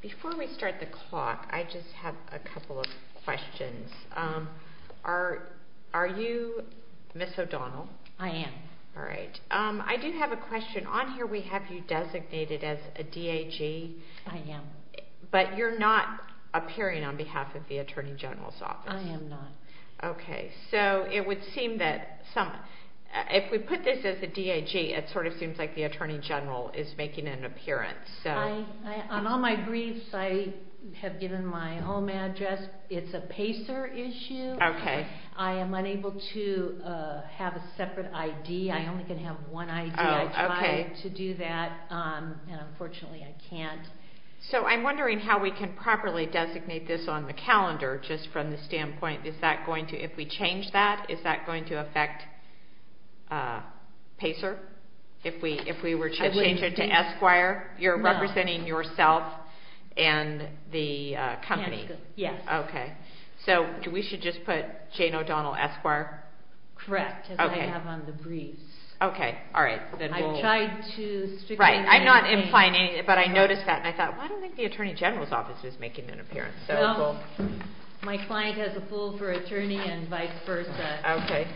Before we start the clock, I just have a couple of questions. Are you Ms. O'Donnell? I am. All right. I do have a question. On here we have you designated as a DAG. I am. But you're not appearing on behalf of the Attorney General's Office. I am not. Okay, so it would seem that some, if we put this as a DAG, it sort of seems like the Attorney General is making an appearance. On all my briefs, I have given my home address. It's a PACER issue. I am unable to have a separate ID. I only can have one ID. I tried to do that, and unfortunately I can't. So I'm wondering how we can properly designate this on the calendar, just from the standpoint, is that going to, if we change that, is that if we were to change it to Esquire, you're representing yourself and the company. Yes. Okay. So we should just put Jane O'Donnell, Esquire? Correct, as I have on the briefs. Okay. All right. I've tried to stick to my name. Right. I'm not implying anything, but I noticed that, and I thought, well, I don't think the Attorney General's Office is making an appearance. No. My client has a pool for attorney and vice versa. Okay.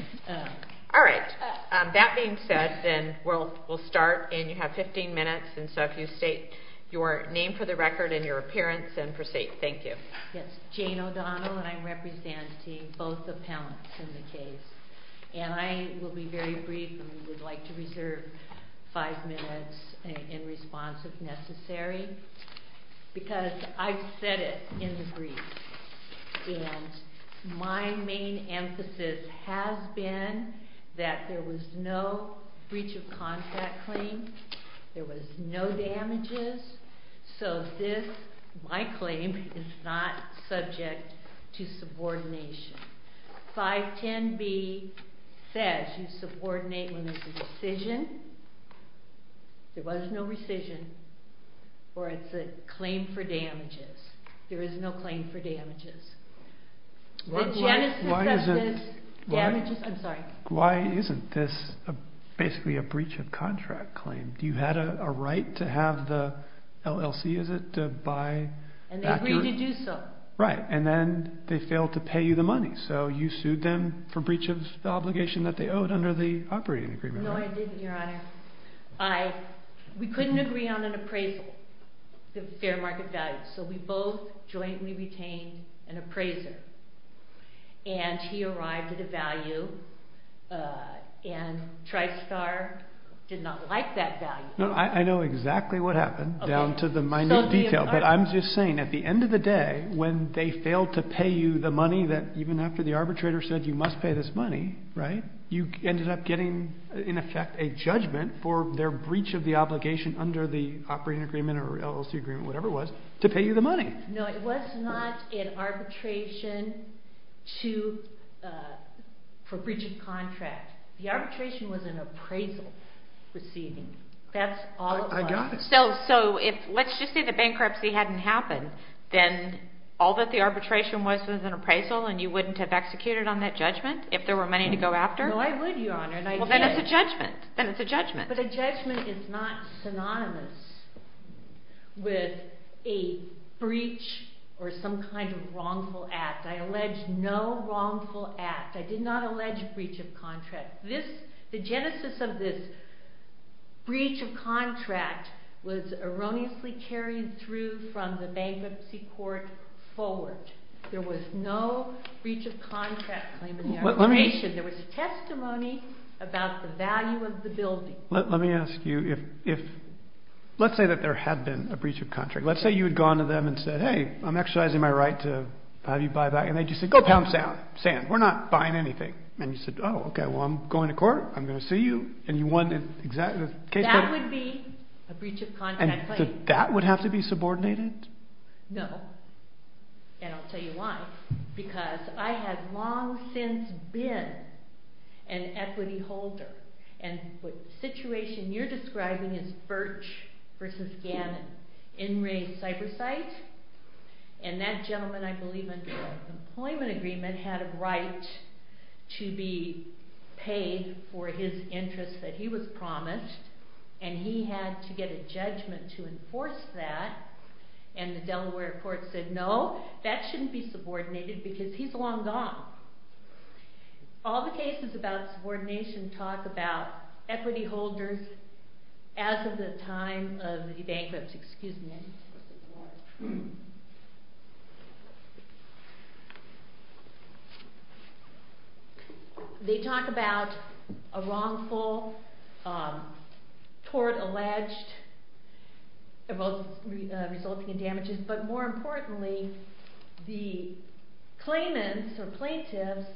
All right. That being said, then we'll start, and you have 15 minutes, and so if you state your name for the record and your appearance and proceed. Thank you. Yes. Jane O'Donnell, and I'm representing both appellants in the case. And I will be very brief, and we would like to reserve five minutes in response, if necessary, because I've said it in the briefs, and my main emphasis has been that there was no breach of contract claim. There was no damages. So this, my claim, is not subject to subordination. 510B says you subordinate when there's a decision. There was no rescission, or it's a claim for damages. There is no claim for damages. The client is subject to damages. I'm sorry. Why isn't this basically a breach of contract claim? Do you have a right to have the LLC, is it, to buy? And they agreed to do so. Right. And then they failed to pay you the money, so you sued them for breach of obligation that they owed under the operating agreement, right? No, I didn't, Your Honor. We couldn't agree on an appraisal, the fair market value. So we both jointly retained an appraiser, and he arrived at a value, and Tristar did not like that value. No, I know exactly what happened down to the minute detail, but I'm just saying, at the end of the day, when they failed to pay you the money that, even after the arbitrator said you must pay this money, you ended up getting, in effect, a judgment for their breach of the obligation under the operating agreement or LLC agreement, whatever it was, to pay you the money. No, it was not an arbitration for breach of contract. The arbitration was an appraisal proceeding. That's all it was. I got it. So let's just say the bankruptcy hadn't happened, then all that the arbitration was was an appraisal, and you wouldn't have executed on that judgment if there were money to go after? No, I would, Your Honor, and I did. Well, then it's a judgment. Then it's a judgment. But a judgment is not synonymous with a breach or some kind of wrongful act. I allege no wrongful act. I did not allege breach of contract. The genesis of this breach of contract was erroneously carried through from the bankruptcy court forward. There was no breach of contract claim in the arbitration. There was testimony about the value of the building. Let me ask you if, let's say that there had been a breach of contract. Let's say you had gone to them and said, hey, I'm exercising my right to have you buy back. And they just said, go pound sand. We're not buying anything. And you said, oh, okay, well, I'm going to court. I'm going to see you. And you won the case. That would be a breach of contract claim. And that would have to be subordinated? No, and I'll tell you why. Because I have long since been an equity holder. And the situation you're describing is Birch v. Gannon. In re cybersight. And that gentleman, I believe under an employment agreement, had a right to be paid for his interest that he was promised. And he had to get a judgment to enforce that. And the Delaware court said, no, that shouldn't be subordinated because he's long gone. All the cases about subordination talk about equity holders as of the time of the bankruptcy. They talk about a wrongful tort alleged resulting in damages. But more importantly, the claimants or plaintiffs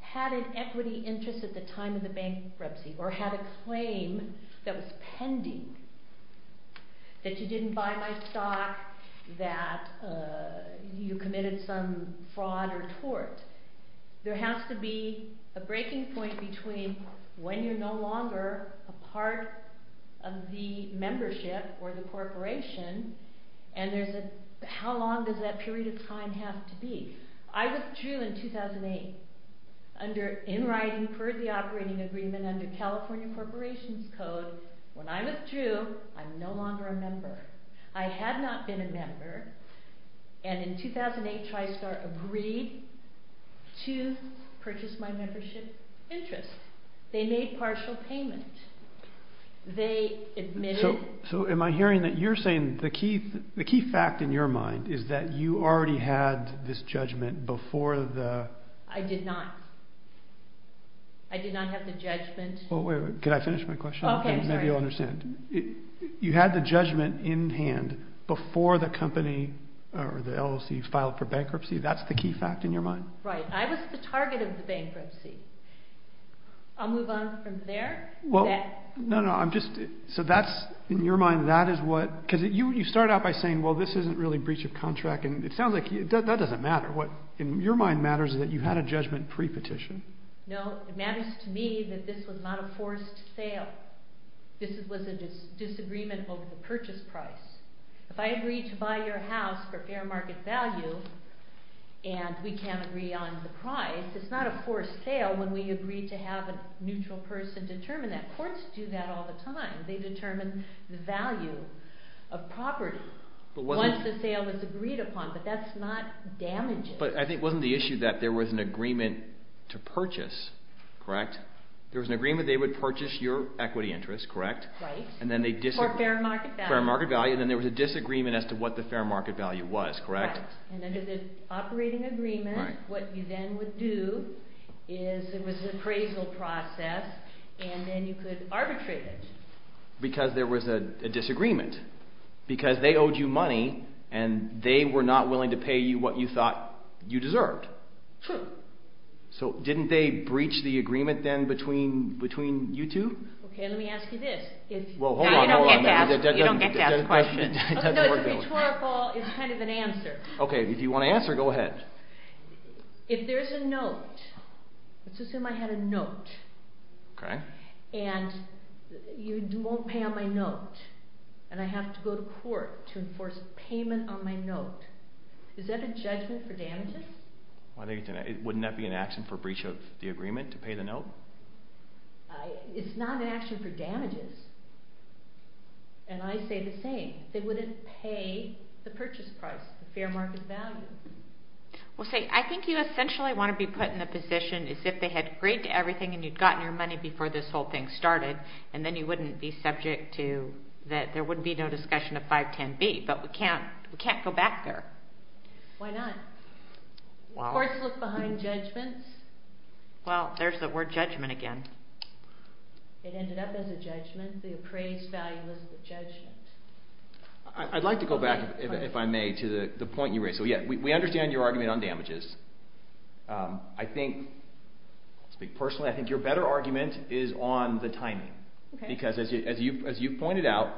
had an equity interest at the time of the bankruptcy or had a claim that was pending. That you didn't buy my stock, that you committed some fraud or tort. There has to be a breaking point between when you're no longer a part of the membership or the corporation, and how long does that period of time have to be? I withdrew in 2008 in writing for the operating agreement under California Corporations Code. When I withdrew, I'm no longer a member. I had not been a member, and in 2008 Tristar agreed to purchase my membership interest. They made partial payment. They admitted... So am I hearing that you're saying the key fact in your mind is that you already had this judgment before the... I did not. I did not have the judgment... ...in hand before the company or the LLC filed for bankruptcy. That's the key fact in your mind? Right. I was the target of the bankruptcy. I'll move on from there. No, no. I'm just... So that's, in your mind, that is what... Because you started out by saying, well, this isn't really breach of contract, and it sounds like that doesn't matter. What in your mind matters is that you had a judgment pre-petition. No. It matters to me that this was not a forced sale. This was a disagreement over the purchase price. If I agreed to buy your house for fair market value and we can't agree on the price, it's not a forced sale when we agreed to have a neutral person determine that. Courts do that all the time. They determine the value of property once the sale is agreed upon, but that's not damages. But I think it wasn't the issue that there was an agreement to purchase, correct? There was an agreement they would purchase your equity interest, correct? Right. For fair market value. Fair market value. And then there was a disagreement as to what the fair market value was, correct? Right. And under the operating agreement, what you then would do is there was an appraisal process, and then you could arbitrate it. Because there was a disagreement. Because they owed you money, and they were not willing to pay you what you thought you deserved. True. So didn't they breach the agreement then between you two? Okay, let me ask you this. You don't get to ask questions. It's a rhetorical, it's kind of an answer. Okay, if you want to answer, go ahead. If there's a note, let's assume I had a note, and you won't pay on my note, and I have to go to court to enforce a payment on my note, is that a judgment for damages? Wouldn't that be an action for breach of the agreement to pay the note? No. It's not an action for damages. And I say the same. They wouldn't pay the purchase price, the fair market value. Well, see, I think you essentially want to be put in the position as if they had agreed to everything and you'd gotten your money before this whole thing started, and then you wouldn't be subject to, that there wouldn't be no discussion of 510B. But we can't go back there. Why not? Of course, look behind judgments. Well, there's the word judgment again. It ended up as a judgment. The appraised value was the judgment. I'd like to go back, if I may, to the point you raised. So yeah, we understand your argument on damages. I think, I'll speak personally, I think your better argument is on the timing. Because as you pointed out,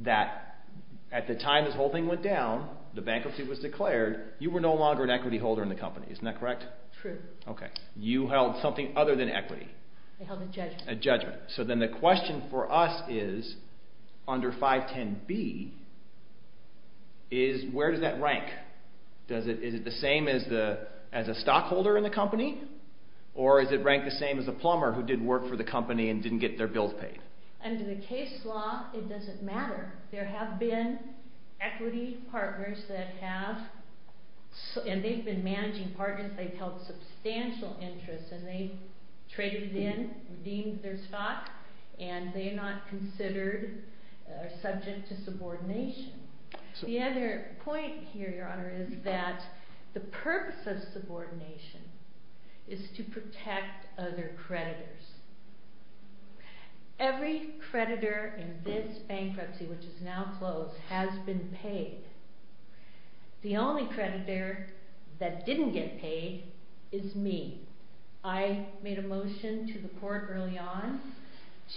that at the time this whole thing went down, the bankruptcy was declared, you were no longer an equity holder in the company. Isn't that correct? True. Okay. You held something other than equity. I held a judgment. A judgment. So then the question for us is, under 510B, where does that rank? Is it the same as a stockholder in the company? Or is it ranked the same as a plumber who did work for the company and didn't get their bills paid? Under the case law, it doesn't matter. There have been equity partners that have, and they've been managing partners, they've held substantial interest, and they've traded in, redeemed their stock, and they are not considered, are subject to subordination. The other point here, Your Honor, is that the purpose of subordination is to protect other creditors. Every creditor in this bankruptcy, which is now closed, has been paid. The only creditor that didn't get paid is me. I made a motion to the court early on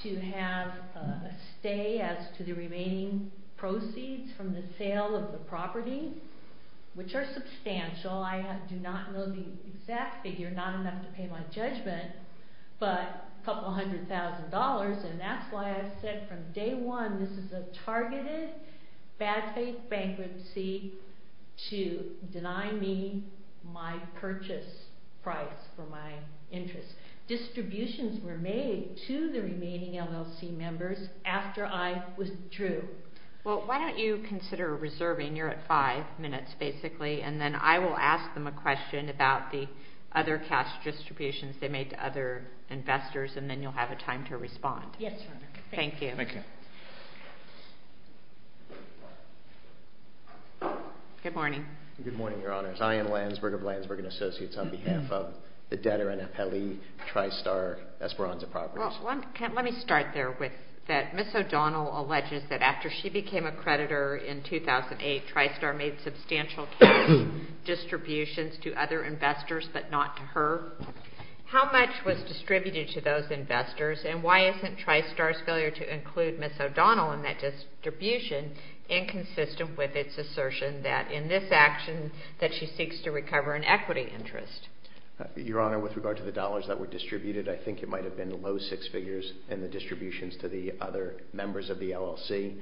to have a stay as to the remaining proceeds from the sale of the property, which are substantial. I do not know the exact figure, not enough to pay my judgment, but a couple hundred thousand dollars, and that's why I said from day one this is a targeted bad faith bankruptcy to deny me my purchase price for my interest. Distributions were made to the remaining LLC members after I withdrew. Well, why don't you consider reserving? You're at five minutes, basically, and then I will ask them a question about the other cash distributions they made to other investors, and then you'll have a time to respond. Yes, Your Honor. Thank you. Thank you. Good morning. Good morning, Your Honors. I am Landsberg of Landsberg & Associates on behalf of the Dehner & Appeli Tristar Esperanza Properties. Well, let me start there with that. Ms. O'Donnell alleges that after she became a creditor in 2008, Tristar made substantial cash distributions to other investors but not to her. How much was distributed to those investors, and why isn't Tristar's failure to include Ms. O'Donnell in that distribution inconsistent with its assertion that in this action that she seeks to recover an equity interest? Your Honor, with regard to the dollars that were distributed, I think it might have been below six figures in the distributions to the other members of the LLC.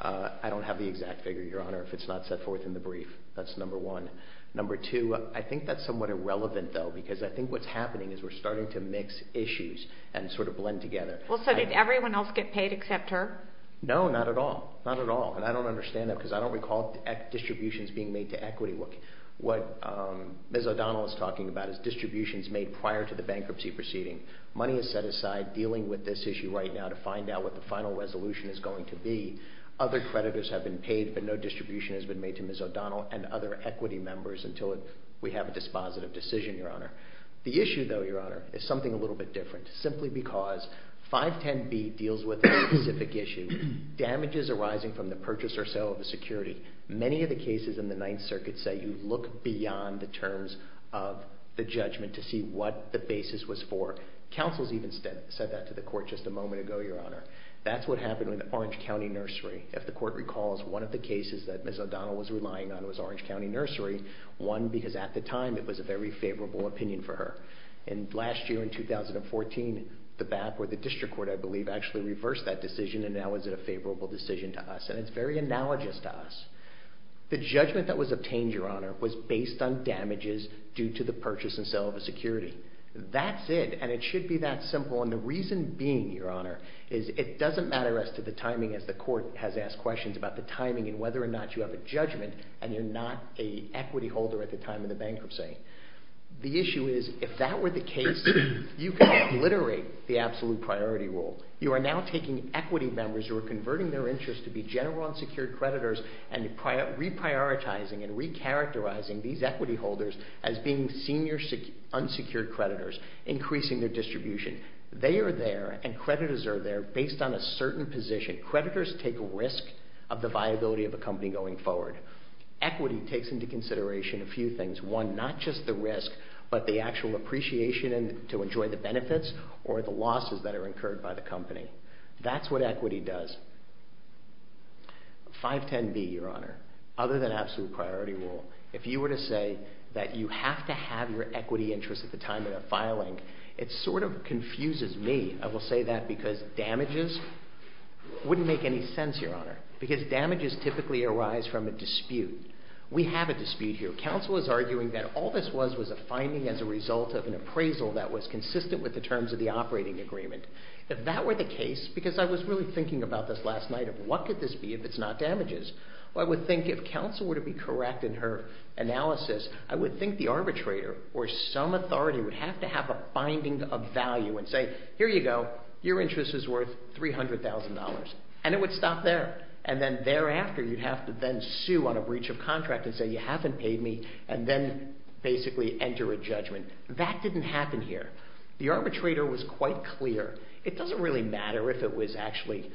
I don't have the exact figure, Your Honor, if it's not set forth in the brief. That's number one. Number two, I think that's somewhat irrelevant, though, because I think what's happening is we're starting to mix issues and sort of blend together. Well, so did everyone else get paid except her? No, not at all. Not at all. And I don't understand that because I don't recall distributions being made to equity. What Ms. O'Donnell is talking about is distributions made prior to the bankruptcy proceeding. Money is set aside dealing with this issue right now to find out what the final resolution is going to be. Other creditors have been paid, but no distribution has been made to Ms. O'Donnell and other equity members until we have a dispositive decision, Your Honor. The issue, though, Your Honor, is something a little bit different, simply because 510B deals with a specific issue, damages arising from the purchase or sale of a security. Many of the cases in the Ninth Circuit say you look beyond the terms of the judgment to see what the basis was for. Counsel's even said that to the Court just a moment ago, Your Honor. That's what happened with Orange County Nursery. If the Court recalls, one of the cases that Ms. O'Donnell was relying on was Orange County Nursery, one because at the time it was a very favorable opinion for her. And last year, in 2014, the BAP or the District Court, I believe, actually reversed that decision and now is it a favorable decision to us. And it's very analogous to us. The judgment that was obtained, Your Honor, was based on damages due to the purchase and sale of a security. That's it. And it should be that simple. And the reason being, Your Honor, is it doesn't matter as to the timing, as the Court has asked questions about the timing and whether or not you have a judgment and you're not an equity holder at the time of the bankruptcy. The issue is, if that were the case, you could obliterate the absolute priority rule. You are now taking equity members who are converting their interest to be general unsecured creditors and reprioritizing and recharacterizing these equity holders as being senior unsecured creditors, increasing their distribution. They are there and creditors are there based on a certain position. Creditors take a risk of the viability of a company going forward. Equity takes into consideration a few things. One, not just the risk, but the actual appreciation to enjoy the benefits or the losses that are incurred by the company. That's what equity does. 510B, Your Honor, other than absolute priority rule, if you were to say that you have to have your equity interest at the time of the filing, it sort of confuses me. I will say that because damages wouldn't make any sense, Your Honor, because damages typically arise from a dispute. We have a dispute here. Counsel is arguing that all this was was a finding as a result of an appraisal that was consistent with the terms of the operating agreement. If that were the case, because I was really thinking about this last night of what could this be if it's not damages, I would think if counsel were to be correct in her analysis, I would think the arbitrator or some authority would have to have a binding of value and say, here you go, your interest is worth $300,000, and it would stop there. And then thereafter, you'd have to then sue on a breach of contract and say you haven't paid me, and then basically enter a judgment. That didn't happen here. The arbitrator was quite clear. It doesn't really matter if it was actually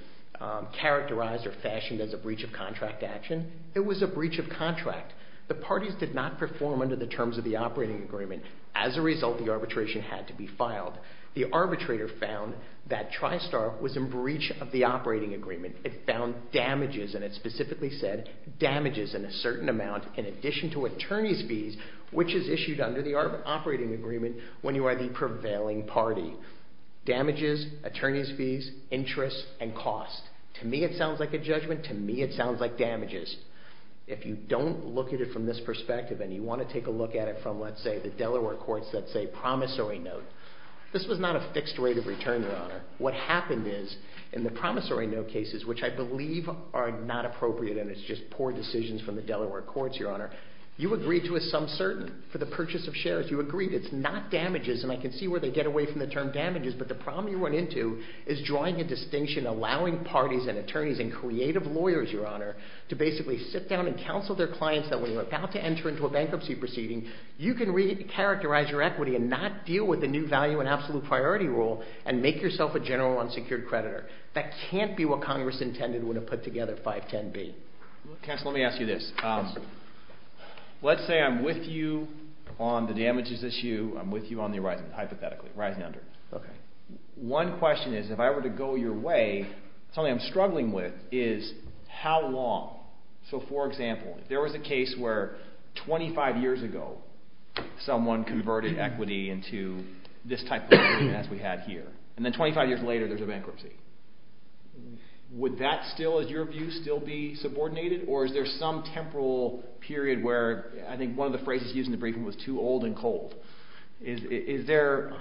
characterized or fashioned as a breach of contract action. It was a breach of contract. The parties did not perform under the terms of the operating agreement. As a result, the arbitration had to be filed. The arbitrator found that TriStar was in breach of the operating agreement. It found damages, and it specifically said damages in a certain amount in addition to attorney's fees, which is issued under the operating agreement when you are the prevailing party. Damages, attorney's fees, interest, and cost. To me, it sounds like a judgment. To me, it sounds like damages. If you don't look at it from this perspective, and you want to take a look at it from, let's say, the Delaware courts that say promissory note, this was not a fixed rate of return, your honor. What happened is, in the promissory note cases, which I believe are not appropriate, and it's just poor decisions from the Delaware courts, your honor, you agreed to a sum certain for the purchase of shares. You agreed it's not damages, and I can see where they get away from the term damages, but the problem you run into is drawing a distinction, allowing parties and attorneys and creative lawyers, your honor, to basically sit down and counsel their clients that when you're about to enter into a bankruptcy proceeding, you can re-characterize your equity and not deal with the new value and absolute priority rule and make yourself a general unsecured creditor. That can't be what Congress intended when it put together 510B. Counsel, let me ask you this. Let's say I'm with you on the damages issue, I'm with you on the arising, hypothetically, rising under. Okay. One question is, if I were to go your way, something I'm struggling with is how long? So, for example, if there was a case where 25 years ago someone converted equity into this type of agreement as we had here, and then 25 years later there's a bankruptcy, would that still, in your view, still be subordinated? Or is there some temporal period where, I think one of the phrases used in the briefing was too old and cold. Is there,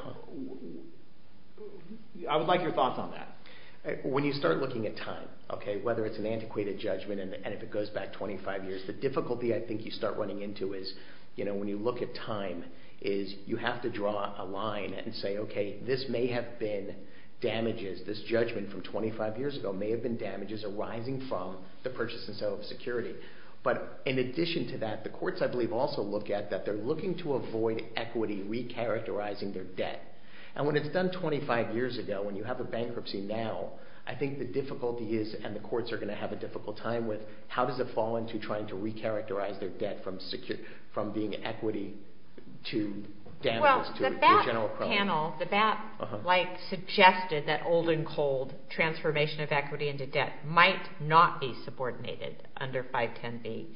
I would like your thoughts on that. When you start looking at time, okay, whether it's an antiquated judgment and if it goes back 25 years, the difficulty I think you start running into is, you know, when you look at time, is you have to draw a line and say, okay, this may have been damages. This judgment from 25 years ago may have been damages arising from the purchase and sale of security. But in addition to that, the courts, I believe, also look at that they're looking to avoid equity re-characterizing their debt. And when it's done 25 years ago, when you have a bankruptcy now, I think the difficulty is, and the courts are going to have a difficult time with, how does it fall into trying to re-characterize their debt from being equity to damages to a general problem? Well, the BAT panel, the BAT, like, suggested that old and cold transformation of equity into debt might not be subordinated under 510B.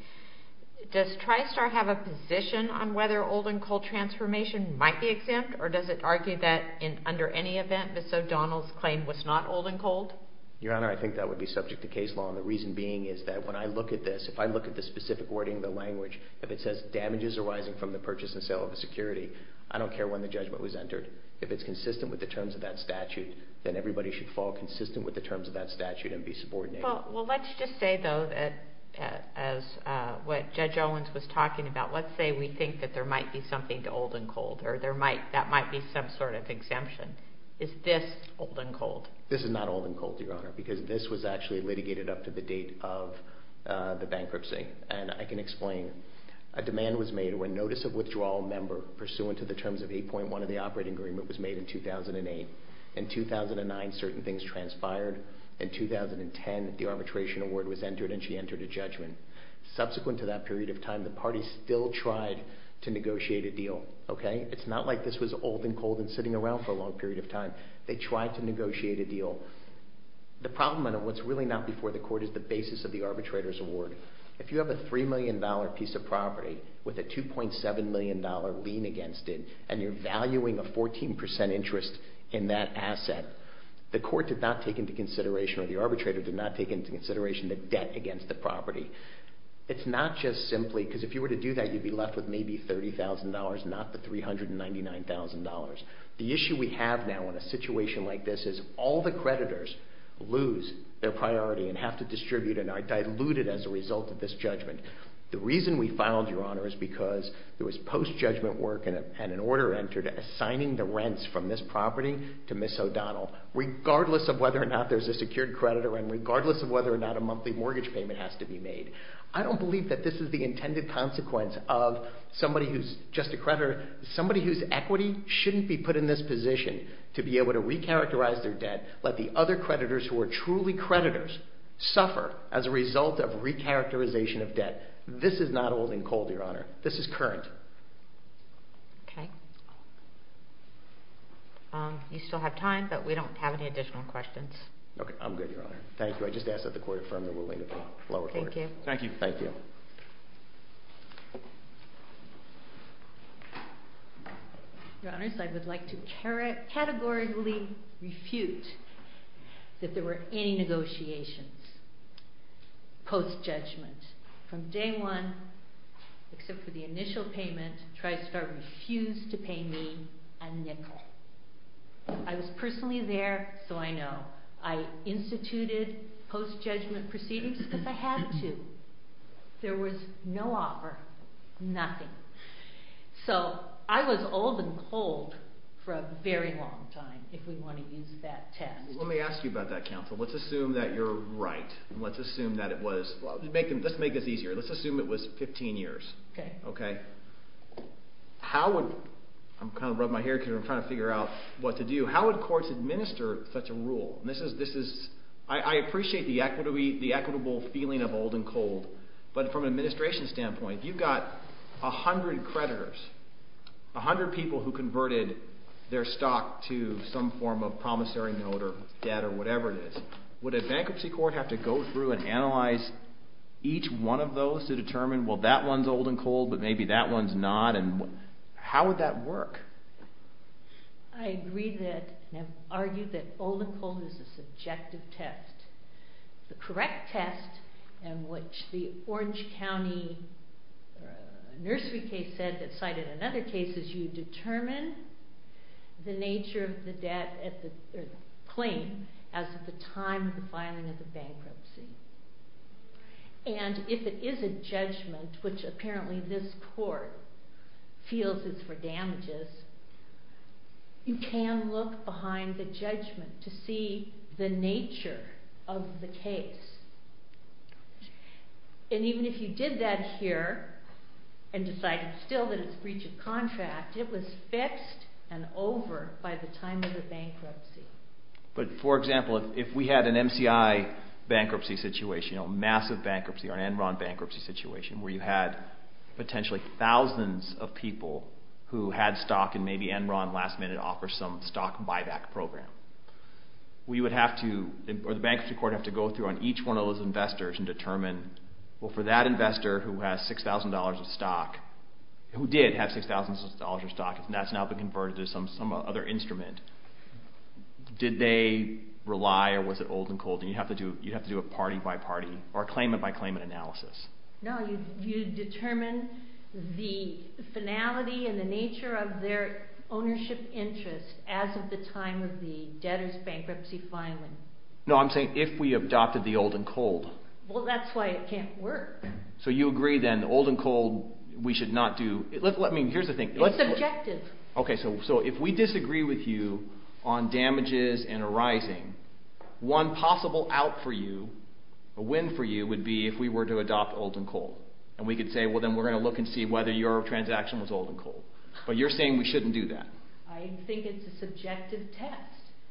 Does TriStar have a position on whether old and cold transformation might be exempt or does it argue that under any event, Ms. O'Donnell's claim was not old and cold? Your Honor, I think that would be subject to case law. And the reason being is that when I look at this, if I look at the specific wording of the language, if it says damages arising from the purchase and sale of the security, I don't care when the judgment was entered. If it's consistent with the terms of that statute, then everybody should fall consistent with the terms of that statute and be subordinated. Well, let's just say, though, that as what Judge Owens was talking about, let's say we think that there might be something to old and cold or there might, that might be some sort of exemption. Is this old and cold? This is not old and cold, Your Honor, because this was actually litigated up to the date of the bankruptcy. And I can explain. A demand was made when notice of withdrawal member pursuant to the terms of 8.1 of the operating agreement was made in 2008. In 2009, certain things transpired. In 2010, the arbitration award was entered and she entered a judgment. Subsequent to that period of time, the parties still tried to negotiate a deal. Okay? It's not like this was old and cold and sitting around for a long period of time. They tried to negotiate a deal. The problem, and what's really not before the court, is the basis of the arbitrator's award. If you have a $3 million piece of property with a $2.7 million lien against it and you're taking that asset, the court did not take into consideration or the arbitrator did not take into consideration the debt against the property. It's not just simply, because if you were to do that, you'd be left with maybe $30,000, not the $399,000. The issue we have now in a situation like this is all the creditors lose their priority and have to distribute and are diluted as a result of this judgment. The reason we filed, Your Honor, is because there was post-judgment work and an order entered assigning the rents from this property to Ms. O'Donnell, regardless of whether or not there's a secured creditor and regardless of whether or not a monthly mortgage payment has to be made. I don't believe that this is the intended consequence of somebody who's just a creditor, somebody whose equity shouldn't be put in this position to be able to recharacterize their debt, let the other creditors who are truly creditors suffer as a result of recharacterization of debt. This is not old and cold, Your Honor. This is current. Okay. You still have time, but we don't have any additional questions. Okay. I'm good, Your Honor. Thank you. I just asked that the court affirm the ruling of the lower court. Thank you. Thank you. Thank you. Your Honors, I would like to categorically refute that there were any negotiations post-judgment from day one, except for the initial payment, Tristar refused to pay me a nickel. I was personally there, so I know. I instituted post-judgment proceedings because I had to. There was no offer, nothing. So, I was old and cold for a very long time, if we want to use that test. Let me ask you about that, counsel. Let's assume that you're right. Let's assume that it was... Let's make this easier. Let's assume it was 15 years. Okay. Okay. How would... I'm kind of rubbing my hair because I'm trying to figure out what to do. How would courts administer such a rule? This is... I appreciate the equitable feeling of old and cold, but from an administration standpoint, you've got a hundred creditors, a hundred people who converted their stock to some form of promissory note or debt or whatever it is. Would a bankruptcy court have to go through and analyze each one of those to determine, well, that one's old and cold, but maybe that one's not? How would that work? I agree that... I argue that old and cold is a subjective test. The correct test, and which the Orange County nursery case said that cited in other cases, is you determine the nature of the debt or claim as of the time of the filing of the bankruptcy. And if it is a judgment, which apparently this court feels is for damages, you can look behind the judgment to see the nature of the case. And even if you did that here and decided still that it's breach of contract, it was fixed and over by the time of the bankruptcy. But for example, if we had an MCI bankruptcy situation, a massive bankruptcy, or an Enron bankruptcy situation, where you had potentially thousands of people who had stock and maybe Enron last minute offered some stock buyback program, we would have to, or the bankruptcy court would have to go through on each one of those investors and determine, well, for that investor who has $6,000 of stock, who did have $6,000 of stock, and that's now been converted to some other instrument, did they rely, or was it old and cold? And you'd have to do a party by party, or a claimant by claimant analysis. No, you determine the finality and the nature of their ownership interest as of the time of the debtor's bankruptcy filing. No, I'm saying if we adopted the old and cold. Well, that's why it can't work. So you agree, then, old and cold we should not do? Let me, here's the thing. It's subjective. Okay, so if we disagree with you on damages and a rising, one possible out for you, a win for you, would be if we were to adopt old and cold. And we could say, well, then we're going to look and see whether your transaction was old and cold. But you're saying we shouldn't do that. I think it's a subjective test.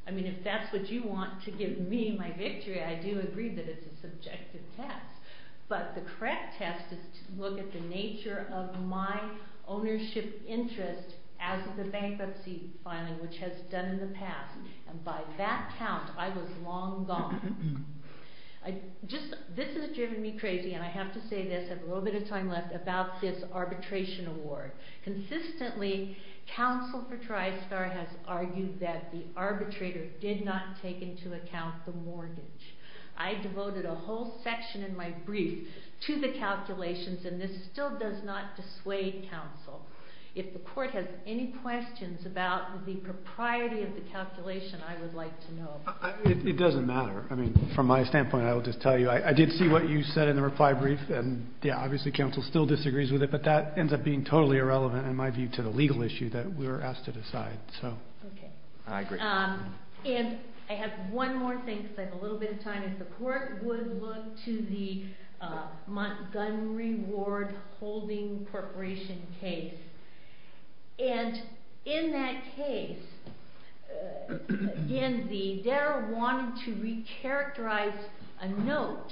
I mean, if that's what you want to give me, my victory, I do agree that it's a subjective test. But the correct test is to look at the nature of my ownership interest as of the bankruptcy filing, which has done in the past. And by that count, I was long gone. This has driven me crazy, and I have to say this, I have a little bit of time left, about this arbitration award. Consistently, counsel for TriStar has argued that the arbitrator did not take into account the mortgage. I devoted a whole section in my brief to the calculations, and this still does not dissuade counsel. If the court has any questions about the propriety of the calculation, I would like to know. It doesn't matter. I mean, from my standpoint, I will just tell you, I did see what you said in the reply brief, and yeah, obviously counsel still disagrees with it, but that ends up being totally irrelevant in my view to the legal issue that we were asked to decide. So, I agree. And I have one more thing, because I have a little bit of time. If the court would look to the Montgomery Ward holding corporation case. And in that case, in the, they wanted to re-characterize a note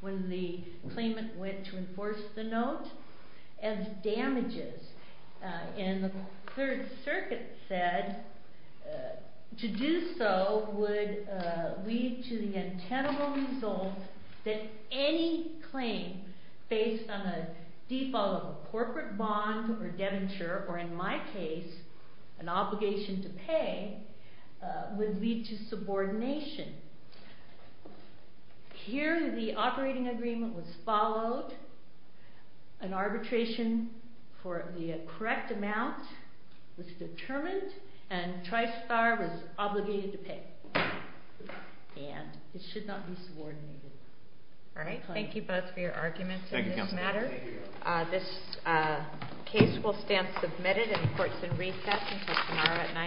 when the claimant went to enforce the note, as damages. And the Third Circuit said, to do so would lead to the untenable result that any claim, based on a default of a corporate bond or debenture, or in my case, an obligation to pay, would lead to subordination. Here, the operating agreement was followed. An arbitration for the correct amount was determined, and Tristar was obligated to pay. And it should not be subordinated. Alright, thank you both for your arguments on this matter. This case will stand submitted in courts in recess until tomorrow at 9 o'clock.